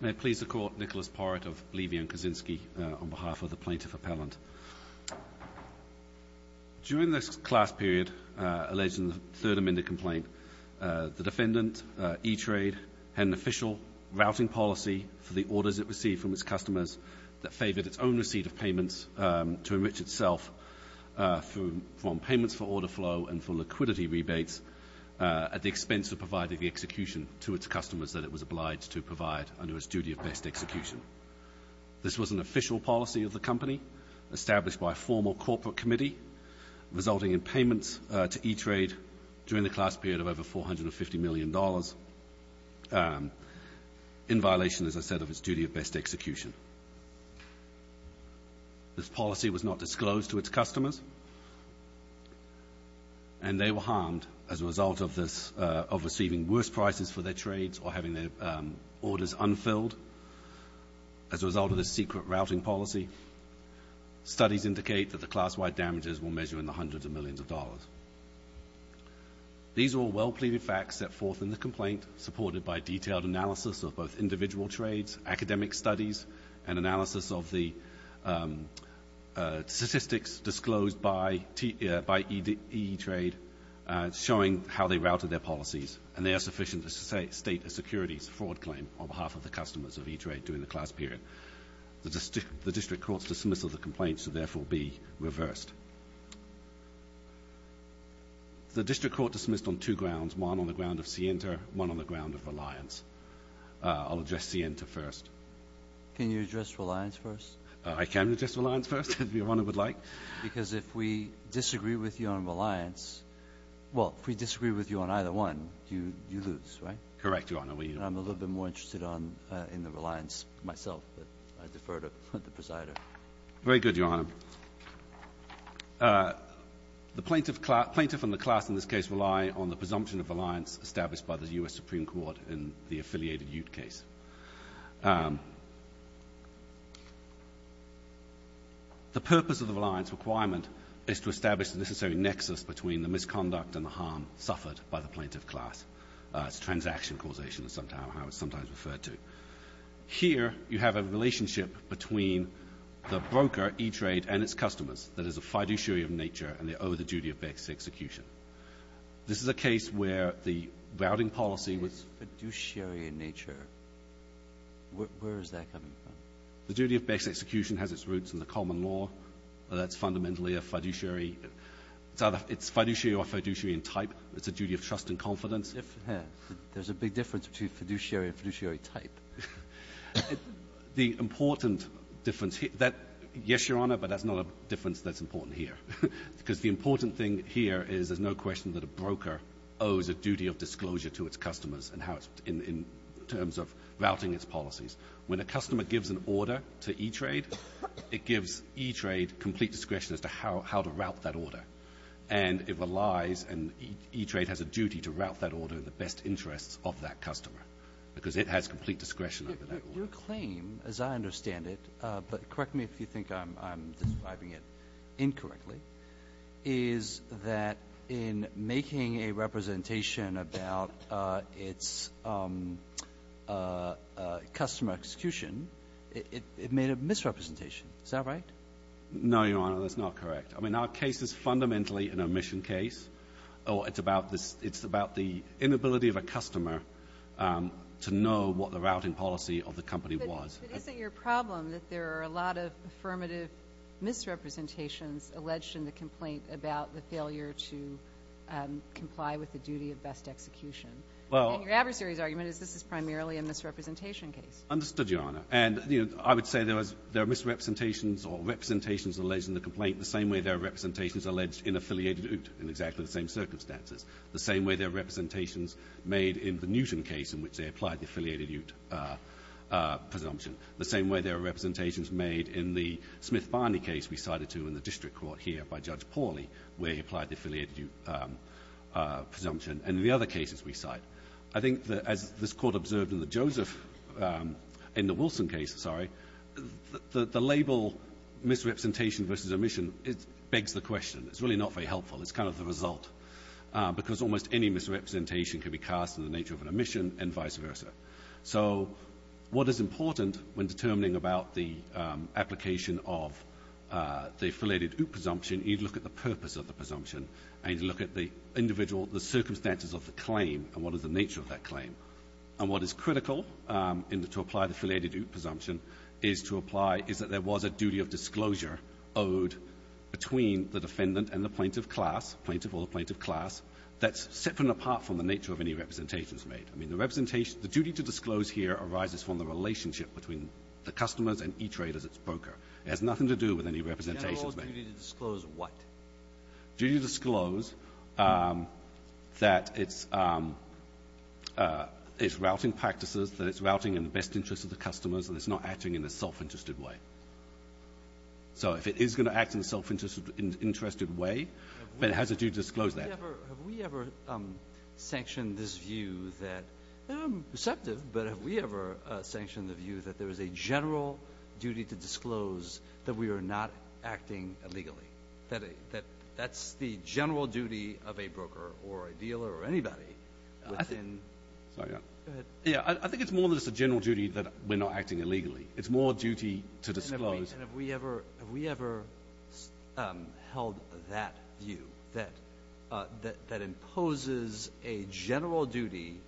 May it please the Court, Nicholas Porrett of Levy & Kaczynski on behalf of the Plaintiff Appellant. During the class period alleged in the Third Amendment complaint, the defendant, E Trade, had an official routing policy for the orders it received from its customers that favoured its own receipt of payments to enrich itself from payments for order flow and for liquidity rebates at the expense of providing the execution to its customers that it was obliged to provide under its duty of best execution. This was an official policy of the company established by a formal corporate committee resulting in payments to E Trade during the class period of over $450 million in violation, as I said, of its duty of best execution. This policy was not disclosed to its customers, and they were harmed as a result of receiving worse prices for their trades or having their orders unfilled as a result of this secret routing policy. Studies indicate that the class-wide damages were measured in the hundreds of millions of dollars. These are all well-pleaded facts set forth in the complaint, supported by detailed analysis of both individual trades, academic studies, and analysis of the statistics disclosed by E Trade showing how they routed their policies, and they are sufficient to state a securities fraud claim on behalf of the customers of E Trade during the class period. The district court's dismissal of the complaint should therefore be reversed. The district court dismissed on two grounds, one on the ground of scienter, one on the ground of reliance. I'll address scienter first. Can you address reliance first? I can address reliance first, if Your Honor would like. Because if we disagree with you on reliance, well, if we disagree with you on either one, you lose, right? Correct, Your Honor. I'm a little bit more interested in the reliance myself, but I defer to the presider. Very good, Your Honor. The plaintiff and the class in this case rely on the presumption of reliance established by the U.S. Supreme Court in the affiliated Ute case. The purpose of the reliance requirement is to establish the necessary nexus between the misconduct and the harm suffered by the plaintiff class. It's transaction causation, as I sometimes refer to. Here you have a relationship between the broker, E Trade, and its customers that is a fiduciary of nature, and they owe the duty of execution. This is a case where the routing policy was — It's fiduciary in nature. Where is that coming from? The duty of execution has its roots in the common law. That's fundamentally a fiduciary — it's fiduciary or fiduciary in type. It's a duty of trust and confidence. There's a big difference between fiduciary and fiduciary type. The important difference — yes, Your Honor, but that's not a difference that's important here. Because the important thing here is there's no question that a broker owes a duty of disclosure to its customers in terms of routing its policies. When a customer gives an order to E Trade, it gives E Trade complete discretion as to how to route that order. And it relies, and E Trade has a duty to route that order in the best interests of that customer because it has complete discretion over that order. Your claim, as I understand it — but correct me if you think I'm describing it incorrectly — is that in making a representation about its customer execution, it made a misrepresentation. Is that right? No, Your Honor, that's not correct. I mean, our case is fundamentally an omission case. It's about this — it's about the inability of a customer to know what the routing policy of the company was. But isn't your problem that there are a lot of affirmative misrepresentations alleged in the complaint about the failure to comply with the duty of best execution? And your adversary's argument is this is primarily a misrepresentation case. Understood, Your Honor. And, you know, I would say there was — there are misrepresentations or representations alleged in the complaint the same way there are representations alleged in Affiliated Oot in exactly the same circumstances, the same way there are representations made in the Newton case in which they applied the Affiliated Oot presumption, the same way there are representations made in the Smith-Barney case we cited to in the district court here by Judge Paulley where he applied the Affiliated Oot presumption, and the other cases we cite. I think that as this Court observed in the Joseph — in the Wilson case, sorry, the label misrepresentation versus omission begs the question. It's really not very helpful. It's kind of the result because almost any misrepresentation can be cast in the nature of an omission and vice versa. So what is important when determining about the application of the Affiliated Oot presumption, you need to look at the purpose of the presumption, and you need to look at the individual — the circumstances of the claim and what is the nature of that claim. And what is critical in the — to apply the Affiliated Oot presumption is to apply is that there was a duty of disclosure owed between the defendant and the plaintiff class, plaintiff or the plaintiff class, that's separate and apart from the nature of any representations made. I mean, the representation — the duty to disclose here arises from the relationship between the customers and E-Traders, its broker. It has nothing to do with any representations made. The general duty to disclose what? Duty to disclose that it's routing practices, that it's routing in the best interest of the customers, and it's not acting in a self-interested way. So if it is going to act in a self-interested way, then it has a duty to disclose that. Have we ever sanctioned this view that — I'm receptive, but have we ever sanctioned the view that there is a general duty to disclose that we are not acting illegally, that that's the general duty of a broker or a dealer or anybody within — Sorry, go ahead. Yeah, I think it's more than just a general duty that we're not acting illegally. It's more a duty to disclose — And have we ever held that view, that that imposes a general duty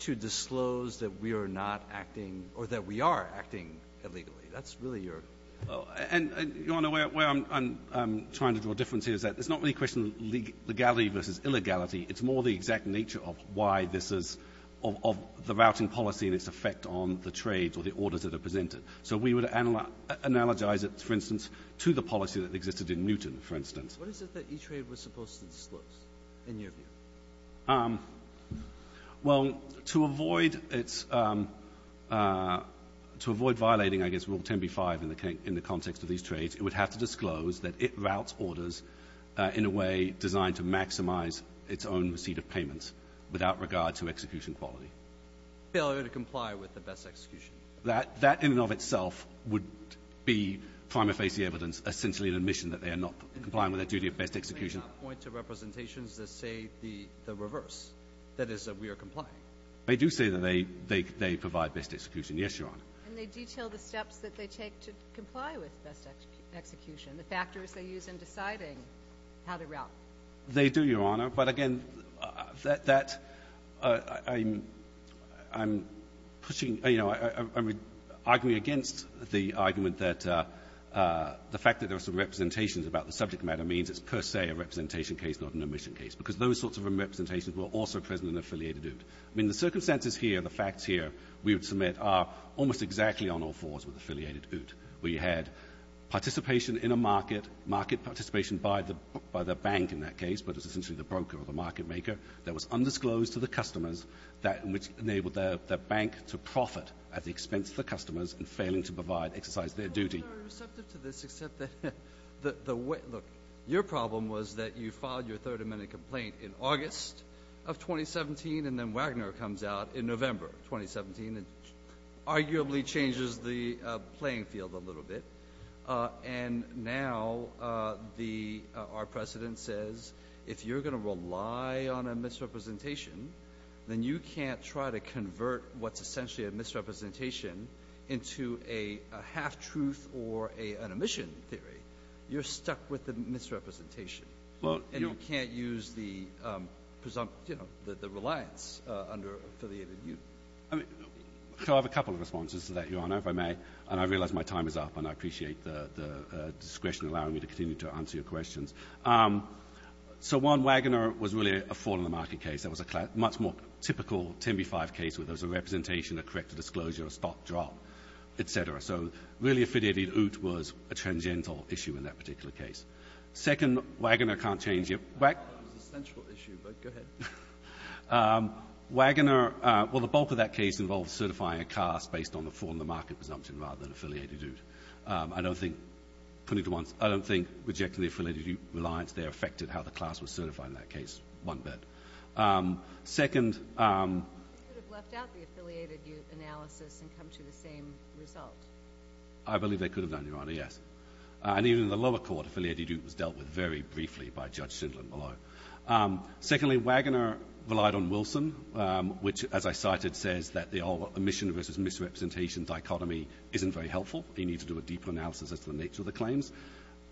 to disclose that we are not acting — or that we are acting illegally? That's really your — And, Your Honor, where I'm trying to draw a difference here is that it's not really a question of legality versus illegality. It's more the exact nature of why this is — of the routing policy and its effect on the trades or the orders that are presented. So we would analogize it, for instance, to the policy that existed in Newton, for instance. What is it that E-Trade was supposed to disclose, in your view? Well, to avoid its — to avoid violating, I guess, Rule 10b-5 in the context of these trades, it would have to disclose that it routes orders in a way designed to maximize its own receipt of payments without regard to execution quality. Failure to comply with the best execution. That in and of itself would be prima facie evidence, essentially an admission that they are not complying with their duty of best execution. But that does not point to representations that say the reverse, that is, that we are complying. They do say that they provide best execution. Yes, Your Honor. And they detail the steps that they take to comply with best execution, the factors they use in deciding how to route. They do, Your Honor. But again, that — I'm pushing — you know, I'm arguing against the argument that the fact that there are some representations about the subject matter means it's per se a representation case, not an admission case, because those sorts of representations were also present in the affiliated oot. I mean, the circumstances here, the facts here, we would submit, are almost exactly on all fours with affiliated oot. We had participation in a market, market participation by the bank in that case, but it's essentially the broker or the market maker, that was undisclosed to the customers, which enabled the bank to profit at the expense of the customers in failing to provide — exercise their duty. Your Honor, I'm receptive to this, except that the way — look, your problem was that you filed your Third Amendment complaint in August of 2017, and then Wagner comes out in November of 2017, and arguably changes the playing field a little bit. And now our precedent says if you're going to rely on a misrepresentation, then you can't try to convert what's essentially a misrepresentation into a half-truth or an admission theory. You're stuck with the misrepresentation. And you can't use the presumptive — you know, the reliance under affiliated oot. I have a couple of responses to that, your Honor, if I may. And I realize my time is up, and I appreciate the discretion allowing me to continue to answer your questions. So one, Wagner was really a fall-in-the-market case. That was a much more typical 10b-5 case where there was a representation, a corrective disclosure, a stop-drop, et cetera. So really affiliated oot was a tangential issue in that particular case. Second, Wagner can't change — That was a central issue, but go ahead. Wagner — well, the bulk of that case involved certifying a class based on the fall-in-the-market presumption rather than affiliated oot. I don't think — putting it at once — I don't think rejecting the affiliated oot reliance there affected how the class was certified in that case one bit. Second — They could have left out the affiliated oot analysis and come to the same result. I believe they could have done, your Honor, yes. And even in the lower court, affiliated oot was dealt with very briefly by Judge Shindlin below. Secondly, Wagner relied on Wilson, which, as I cited, says that the omission versus misrepresentation dichotomy isn't very helpful. You need to do a deeper analysis as to the nature of the claims.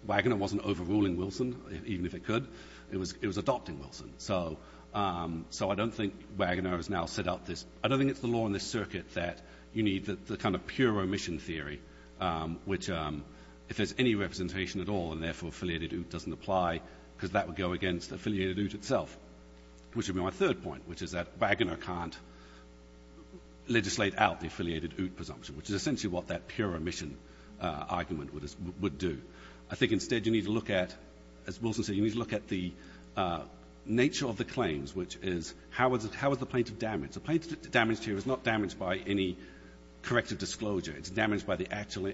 Wagner wasn't overruling Wilson, even if it could. It was adopting Wilson. So I don't think Wagner has now set out this — I don't think it's the law in this circuit that you need the kind of pure omission theory, which if there's any representation at all and, therefore, affiliated oot doesn't apply because that would go against affiliated oot itself, which would be my third point, which is that Wagner can't legislate out the affiliated oot presumption, which is essentially what that pure omission argument would do. I think, instead, you need to look at — as Wilson said, you need to look at the nature of the claims, which is how was the plaintiff damaged. The plaintiff damaged here is not damaged by any corrective disclosure. It's damaged by the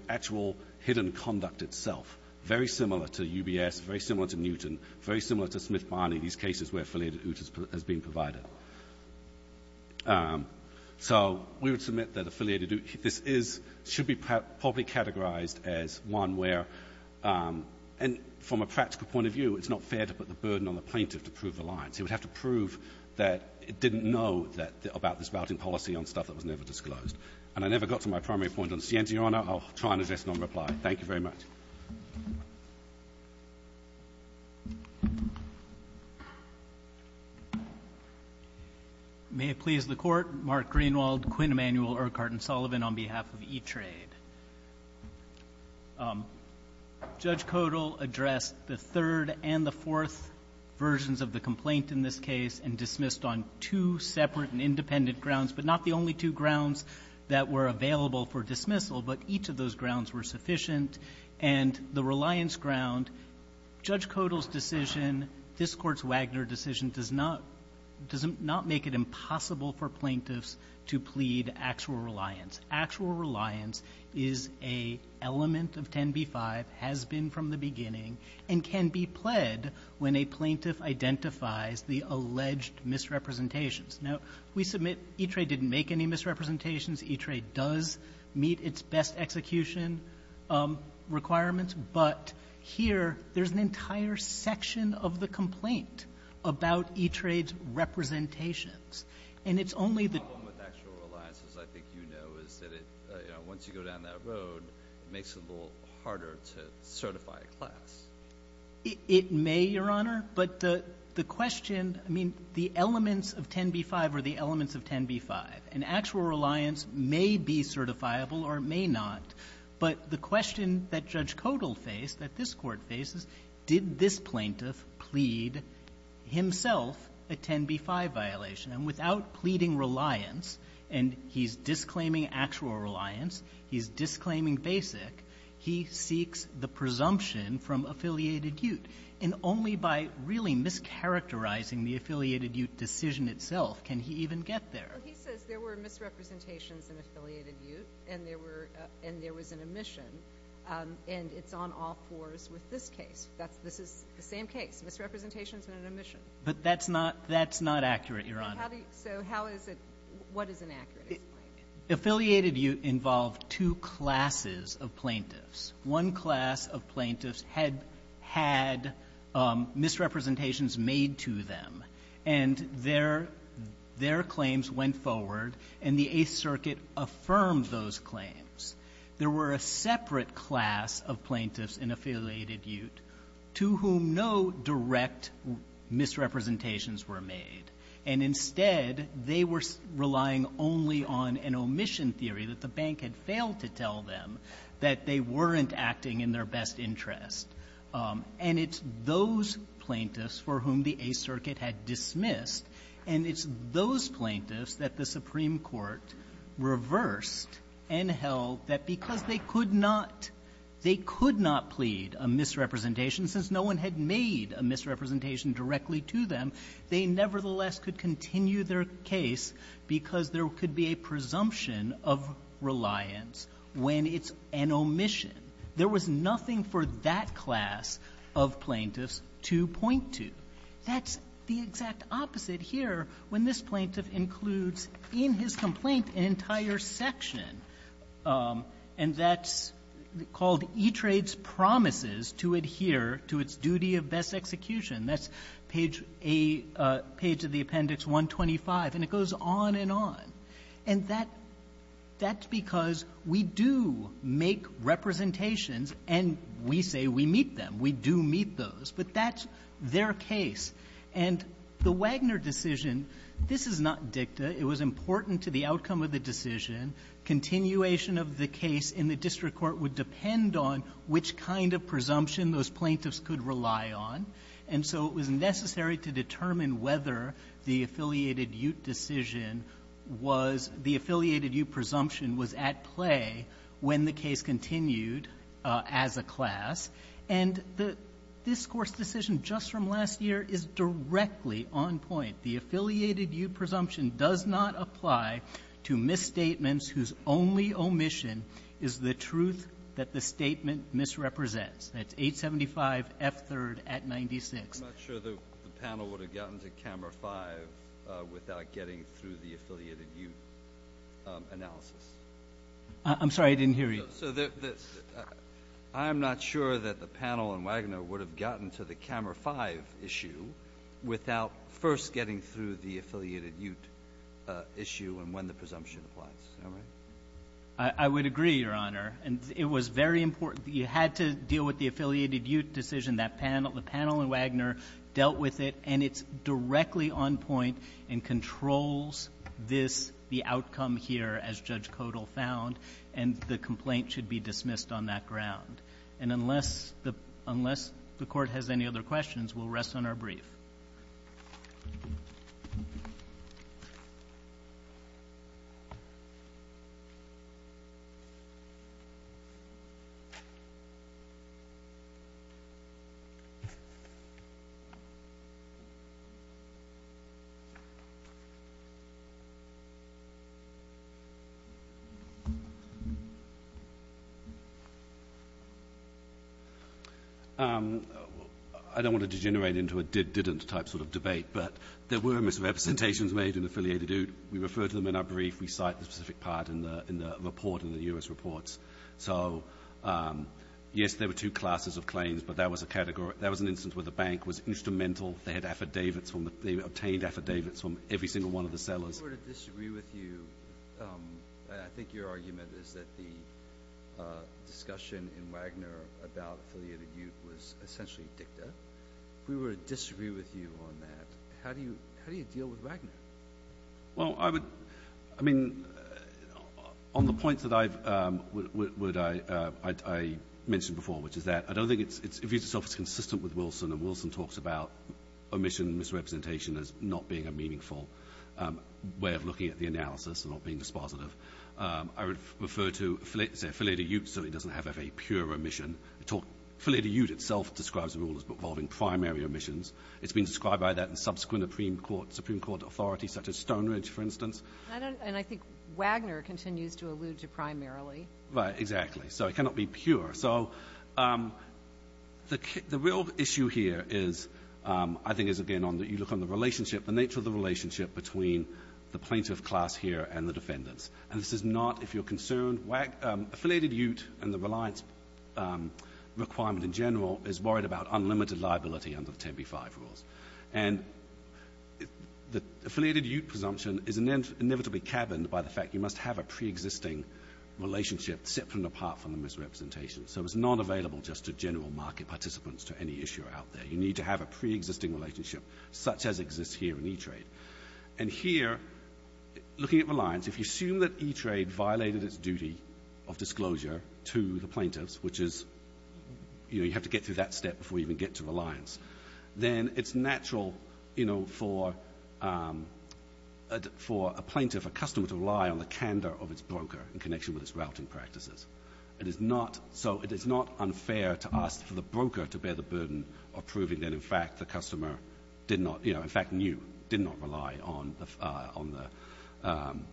actual hidden conduct itself, very similar to UBS, very similar to Newton, very similar to Smith-Barney, these cases where affiliated oot has been provided. So we would submit that affiliated oot, this is — should be properly categorized as one where — and from a practical point of view, it's not fair to put the burden on the plaintiff to prove the lines. He would have to prove that it didn't know that — about this routing policy on stuff that was never disclosed. And I never got to my primary point on Sienti, Your Honor. I'll try and address it on reply. Thank you very much. May it please the Court. Mark Greenwald, Quinn Emanuel, Urquhart & Sullivan on behalf of eTrade. Judge Codall addressed the third and the fourth versions of the complaint in this case and dismissed on two separate and independent grounds, but not the only two grounds that were available for dismissal, but each of those grounds were sufficient. And the reliance ground, Judge Codall's decision, this Court's Wagner decision, does not make it impossible for plaintiffs to plead actual reliance. Actual reliance is an element of 10b-5, has been from the beginning, and can be pled when a plaintiff identifies the alleged misrepresentations. Now, we submit eTrade didn't make any misrepresentations. eTrade does meet its best execution requirements. But here, there's an entire section of the complaint about eTrade's representations. And it's only the — The problem with actual reliance, as I think you know, is that it — once you go down that road, it makes it a little harder to certify a class. It may, Your Honor. But the question — I mean, the elements of 10b-5 are the elements of 10b-5. And actual reliance may be certifiable or may not. But the question that Judge Codall faced, that this Court faces, did this plaintiff plead himself a 10b-5 violation? And without pleading reliance, and he's disclaiming actual reliance, he's disclaiming basic, he seeks the presumption from affiliated ute. And only by really mischaracterizing the affiliated ute decision itself can he even get there. Well, he says there were misrepresentations in affiliated ute and there were — and there was an omission. And it's on all fours with this case. This is the same case, misrepresentations and an omission. But that's not — that's not accurate, Your Honor. So how do you — so how is it — what is inaccurate? Affiliated ute involved two classes of plaintiffs. One class of plaintiffs had — had misrepresentations made to them. And their — their claims went forward, and the Eighth Circuit affirmed those claims. There were a separate class of plaintiffs in affiliated ute to whom no direct misrepresentations were made. And instead, they were relying only on an omission theory that the bank had failed to tell them that they weren't acting in their best interest. And it's those plaintiffs for whom the Eighth Circuit had dismissed and it's those plaintiffs that the Supreme Court reversed and held that because they could not — they could not plead a misrepresentation since no one had made a misrepresentation directly to them, they nevertheless could continue their case because there could be a presumption of reliance when it's an omission. There was nothing for that class of plaintiffs to point to. That's the exact opposite here when this plaintiff includes in his complaint an entire section, and that's called E-Trade's promises to adhere to its duty of best execution. That's page A — page of the Appendix 125. And it goes on and on. And that — that's because we do make representations and we say we meet them. We do meet those. But that's their case. And the Wagner decision, this is not dicta. It was important to the outcome of the decision. Continuation of the case in the district court would depend on which kind of presumption those plaintiffs could rely on. And so it was necessary to determine whether the affiliated-ute decision was — the affiliated-ute presumption was at play when the case continued as a class. And the — this Court's decision just from last year is directly on point. The affiliated-ute presumption does not apply to misstatements whose only omission is the truth that the statement misrepresents. That's 875F3rd at 96. I'm not sure the panel would have gotten to Camera 5 without getting through the affiliated-ute analysis. I'm sorry. I didn't hear you. So the — I'm not sure that the panel and Wagner would have gotten to the Camera 5 issue without first getting through the affiliated-ute issue and when the presumption applies. Am I right? I would agree, Your Honor. And it was very important. You had to deal with the affiliated-ute decision. That panel — the panel and Wagner dealt with it. And it's directly on point and controls this — the outcome here, as Judge Codall found. And the complaint should be dismissed on that ground. And unless the — unless the Court has any other questions, we'll rest on our brief. Thank you. I don't want to degenerate into a did-didn't type question. of debate. But there were misrepresentations made in affiliated-ute. We refer to them in our brief. We cite the specific part in the — in the report, in the U.S. reports. So, yes, there were two classes of claims, but that was a category — that was an instance where the bank was instrumental. They had affidavits from the — they obtained affidavits from every single one of the sellers. We were to disagree with you. I think your argument is that the discussion in Wagner about affiliated-ute was essentially dicta. We were to disagree with you on that. How do you — how do you deal with Wagner? Well, I would — I mean, on the points that I've — would I — I mentioned before, which is that I don't think it's — it views itself as consistent with Wilson. And Wilson talks about omission and misrepresentation as not being a meaningful way of looking at the analysis and not being dispositive. I would refer to affiliated-ute certainly doesn't have a very pure omission. Affiliated-ute itself describes the rule as involving primary omissions. It's been described by that in subsequent Supreme Court authorities, such as Stone Ridge, for instance. And I think Wagner continues to allude to primarily. Right. Exactly. So it cannot be pure. So the real issue here is, I think, is, again, on the — you look on the relationship, the nature of the relationship between the plaintiff class here and the defendants. And this is not, if you're concerned — affiliated-ute and the reliance requirement in general is worried about unlimited liability under the 10b-5 rules. And the affiliated-ute presumption is inevitably cabined by the fact you must have a preexisting relationship separate and apart from the misrepresentation. So it's not available just to general market participants to any issuer out there. You need to have a preexisting relationship such as exists here in e-trade. And here, looking at reliance, if you assume that e-trade violated its duty of disclosure to the plaintiffs, which is, you know, you have to get through that step before you even get to reliance, then it's natural, you know, for a plaintiff, a customer, to rely on the candor of its broker in connection with its routing practices. It is not — so it is not unfair to ask for the broker to bear the burden of proving that, in fact, the customer did not — you know, in fact, knew, did not rely on the —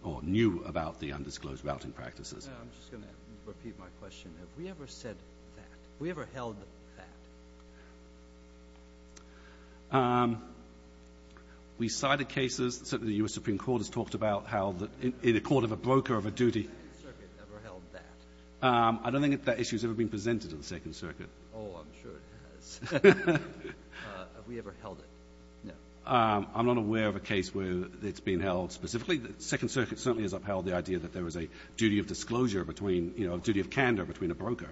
or knew about the undisclosed routing practices. I'm just going to repeat my question. Have we ever said that? Have we ever held that? We cited cases. Certainly, the U.S. Supreme Court has talked about how the court of a broker of a duty — Has the Second Circuit ever held that? I don't think that issue has ever been presented to the Second Circuit. Oh, I'm sure it has. Have we ever held it? No. I'm not aware of a case where it's been held specifically. The Second Circuit certainly has upheld the idea that there is a duty of disclosure between — you know, a duty of candor between a broker.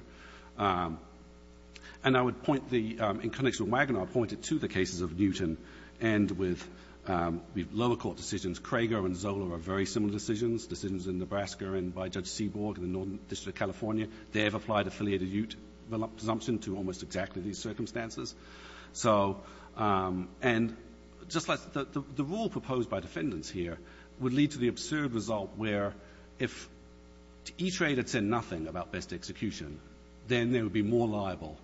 And I would point the — in connection with Wagner, I would point it to the cases of Newton and with lower court decisions. Krager and Zola are very similar decisions, decisions in Nebraska and by Judge Seaborg in the Northern District of California. They have applied affiliated presumption to almost exactly these circumstances. So — and just like the rule proposed by defendants here would lead to the absurd result where if E-Trade had said nothing about best execution, then they would be more liable,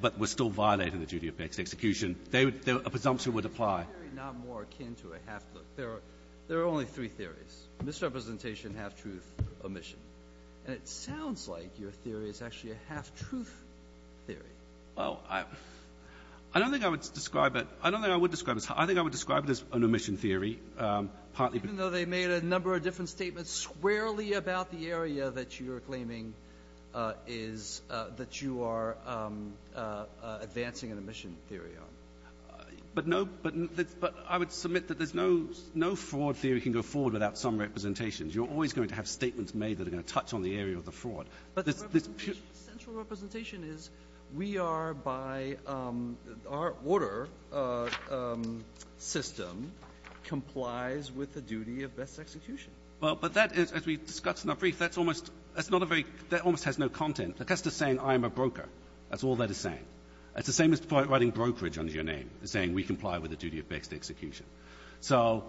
but were still violating the duty of best execution. They would — a presumption would apply. It's not more akin to a half-look. There are only three theories, misrepresentation, half-truth, omission. And it sounds like your theory is actually a half-truth theory. Well, I don't think I would describe it — I don't think I would describe it as — I think I would describe it as an omission theory, partly because — Even though they made a number of different statements squarely about the area that you are claiming is — that you are advancing an omission theory on. But no — but I would submit that there's no — no fraud theory can go forward without some representations. You're always going to have statements made that are going to touch on the area of the fraud. But the central representation is we are by — our order system complies with the duty of best execution. Well, but that is — as we discussed in our brief, that's almost — that's not a very — that almost has no content. Like, that's just saying I am a broker. That's all that is saying. It's the same as writing brokerage under your name, saying we comply with the duty of best execution. So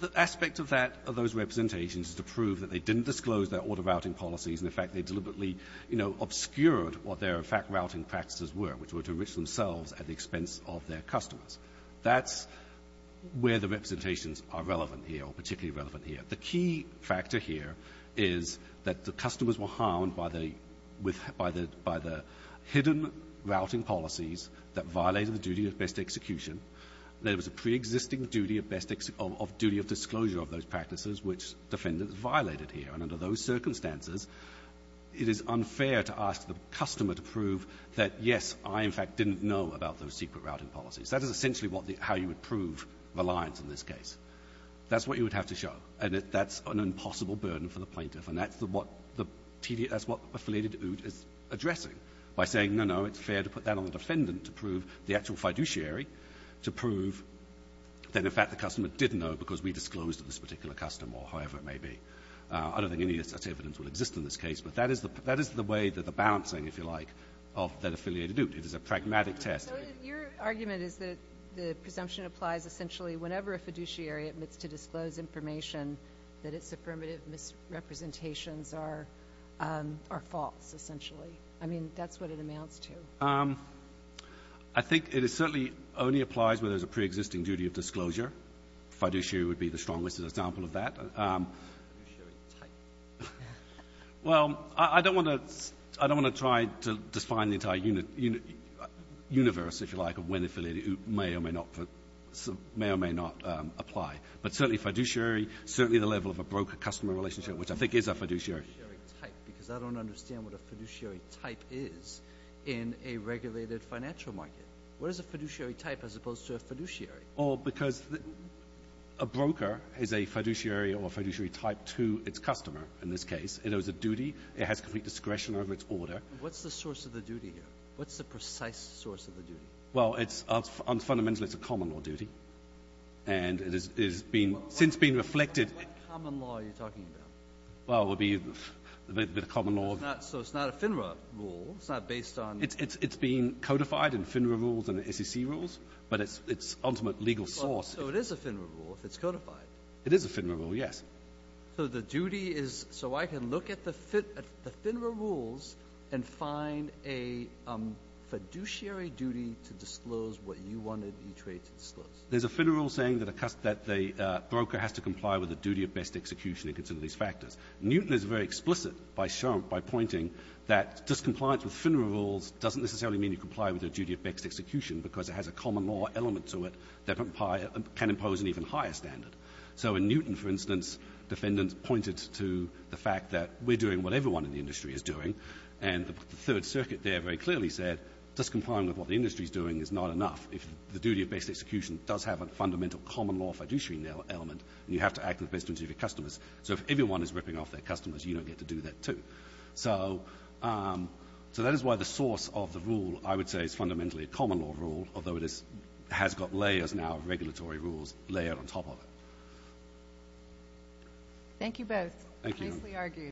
the aspect of that — of those representations is to prove that they didn't disclose their order-routing policies, and, in fact, they deliberately, you know, obscured what their fact-routing practices were, which were to enrich themselves at the expense of their customers. That's where the representations are relevant here, or particularly relevant here. The key factor here is that the customers were harmed by the — with — by the — by the hidden routing policies that violated the duty of best execution. There was a preexisting duty of best — of duty of disclosure of those practices which defendants violated here. And under those circumstances, it is unfair to ask the customer to prove that, yes, I, in fact, didn't know about those secret routing policies. That is essentially what the — how you would prove reliance in this case. That's what you would have to show. And that's an impossible burden for the plaintiff. And that's the — what the — that's what Affiliated Ood is addressing by saying, no, no, it's fair to put that on the defendant to prove the actual fiduciary to prove that, in fact, the customer didn't know because we disclosed to this particular customer, or however it may be. I don't think any such evidence will exist in this case. But that is the — that is the way that the balancing, if you like, of that Affiliated Ood. It is a pragmatic test. So your argument is that the presumption applies essentially whenever a fiduciary admits to disclose information that its affirmative misrepresentations are — are false, essentially. I mean, that's what it amounts to. I think it certainly only applies when there's a preexisting duty of disclosure. Fiduciary would be the strongest example of that. Well, I don't want to — I don't want to try to define the entire universe, if you like, of when Affiliated Ood may or may not — may or may not apply. But certainly fiduciary, certainly the level of a broker-customer relationship, which I think is a fiduciary. What is a fiduciary type? Because I don't understand what a fiduciary type is in a regulated financial market. What is a fiduciary type as opposed to a fiduciary? Well, because a broker is a fiduciary or a fiduciary type to its customer, in this case. It owes a duty. It has complete discretion over its order. What's the source of the duty here? What's the precise source of the duty? Well, it's — fundamentally, it's a common law duty. And it has been — since being reflected — What common law are you talking about? Well, it would be a bit of common law. So it's not a FINRA rule. It's not based on — It's being codified in FINRA rules and SEC rules. But it's ultimate legal source. So it is a FINRA rule if it's codified. It is a FINRA rule, yes. So the duty is — so I can look at the FINRA rules and find a fiduciary duty to disclose what you wanted me to disclose. There's a FINRA rule saying that the broker has to comply with the duty of best execution and consider these factors. Newton is very explicit by pointing that just compliance with FINRA rules doesn't necessarily mean you comply with the duty of best execution because it has a common law element to it that can impose an even higher standard. So in Newton, for instance, defendants pointed to the fact that we're doing what everyone in the industry is doing, and the Third Circuit there very clearly said just complying with what the industry is doing is not enough. If the duty of best execution does have a fundamental common law fiduciary element then you have to act in the best interest of your customers. So if everyone is ripping off their customers, you don't get to do that too. So that is why the source of the rule I would say is fundamentally a common law rule, although it has got layers now of regulatory rules layered on top of it. Thank you both. Nicely argued.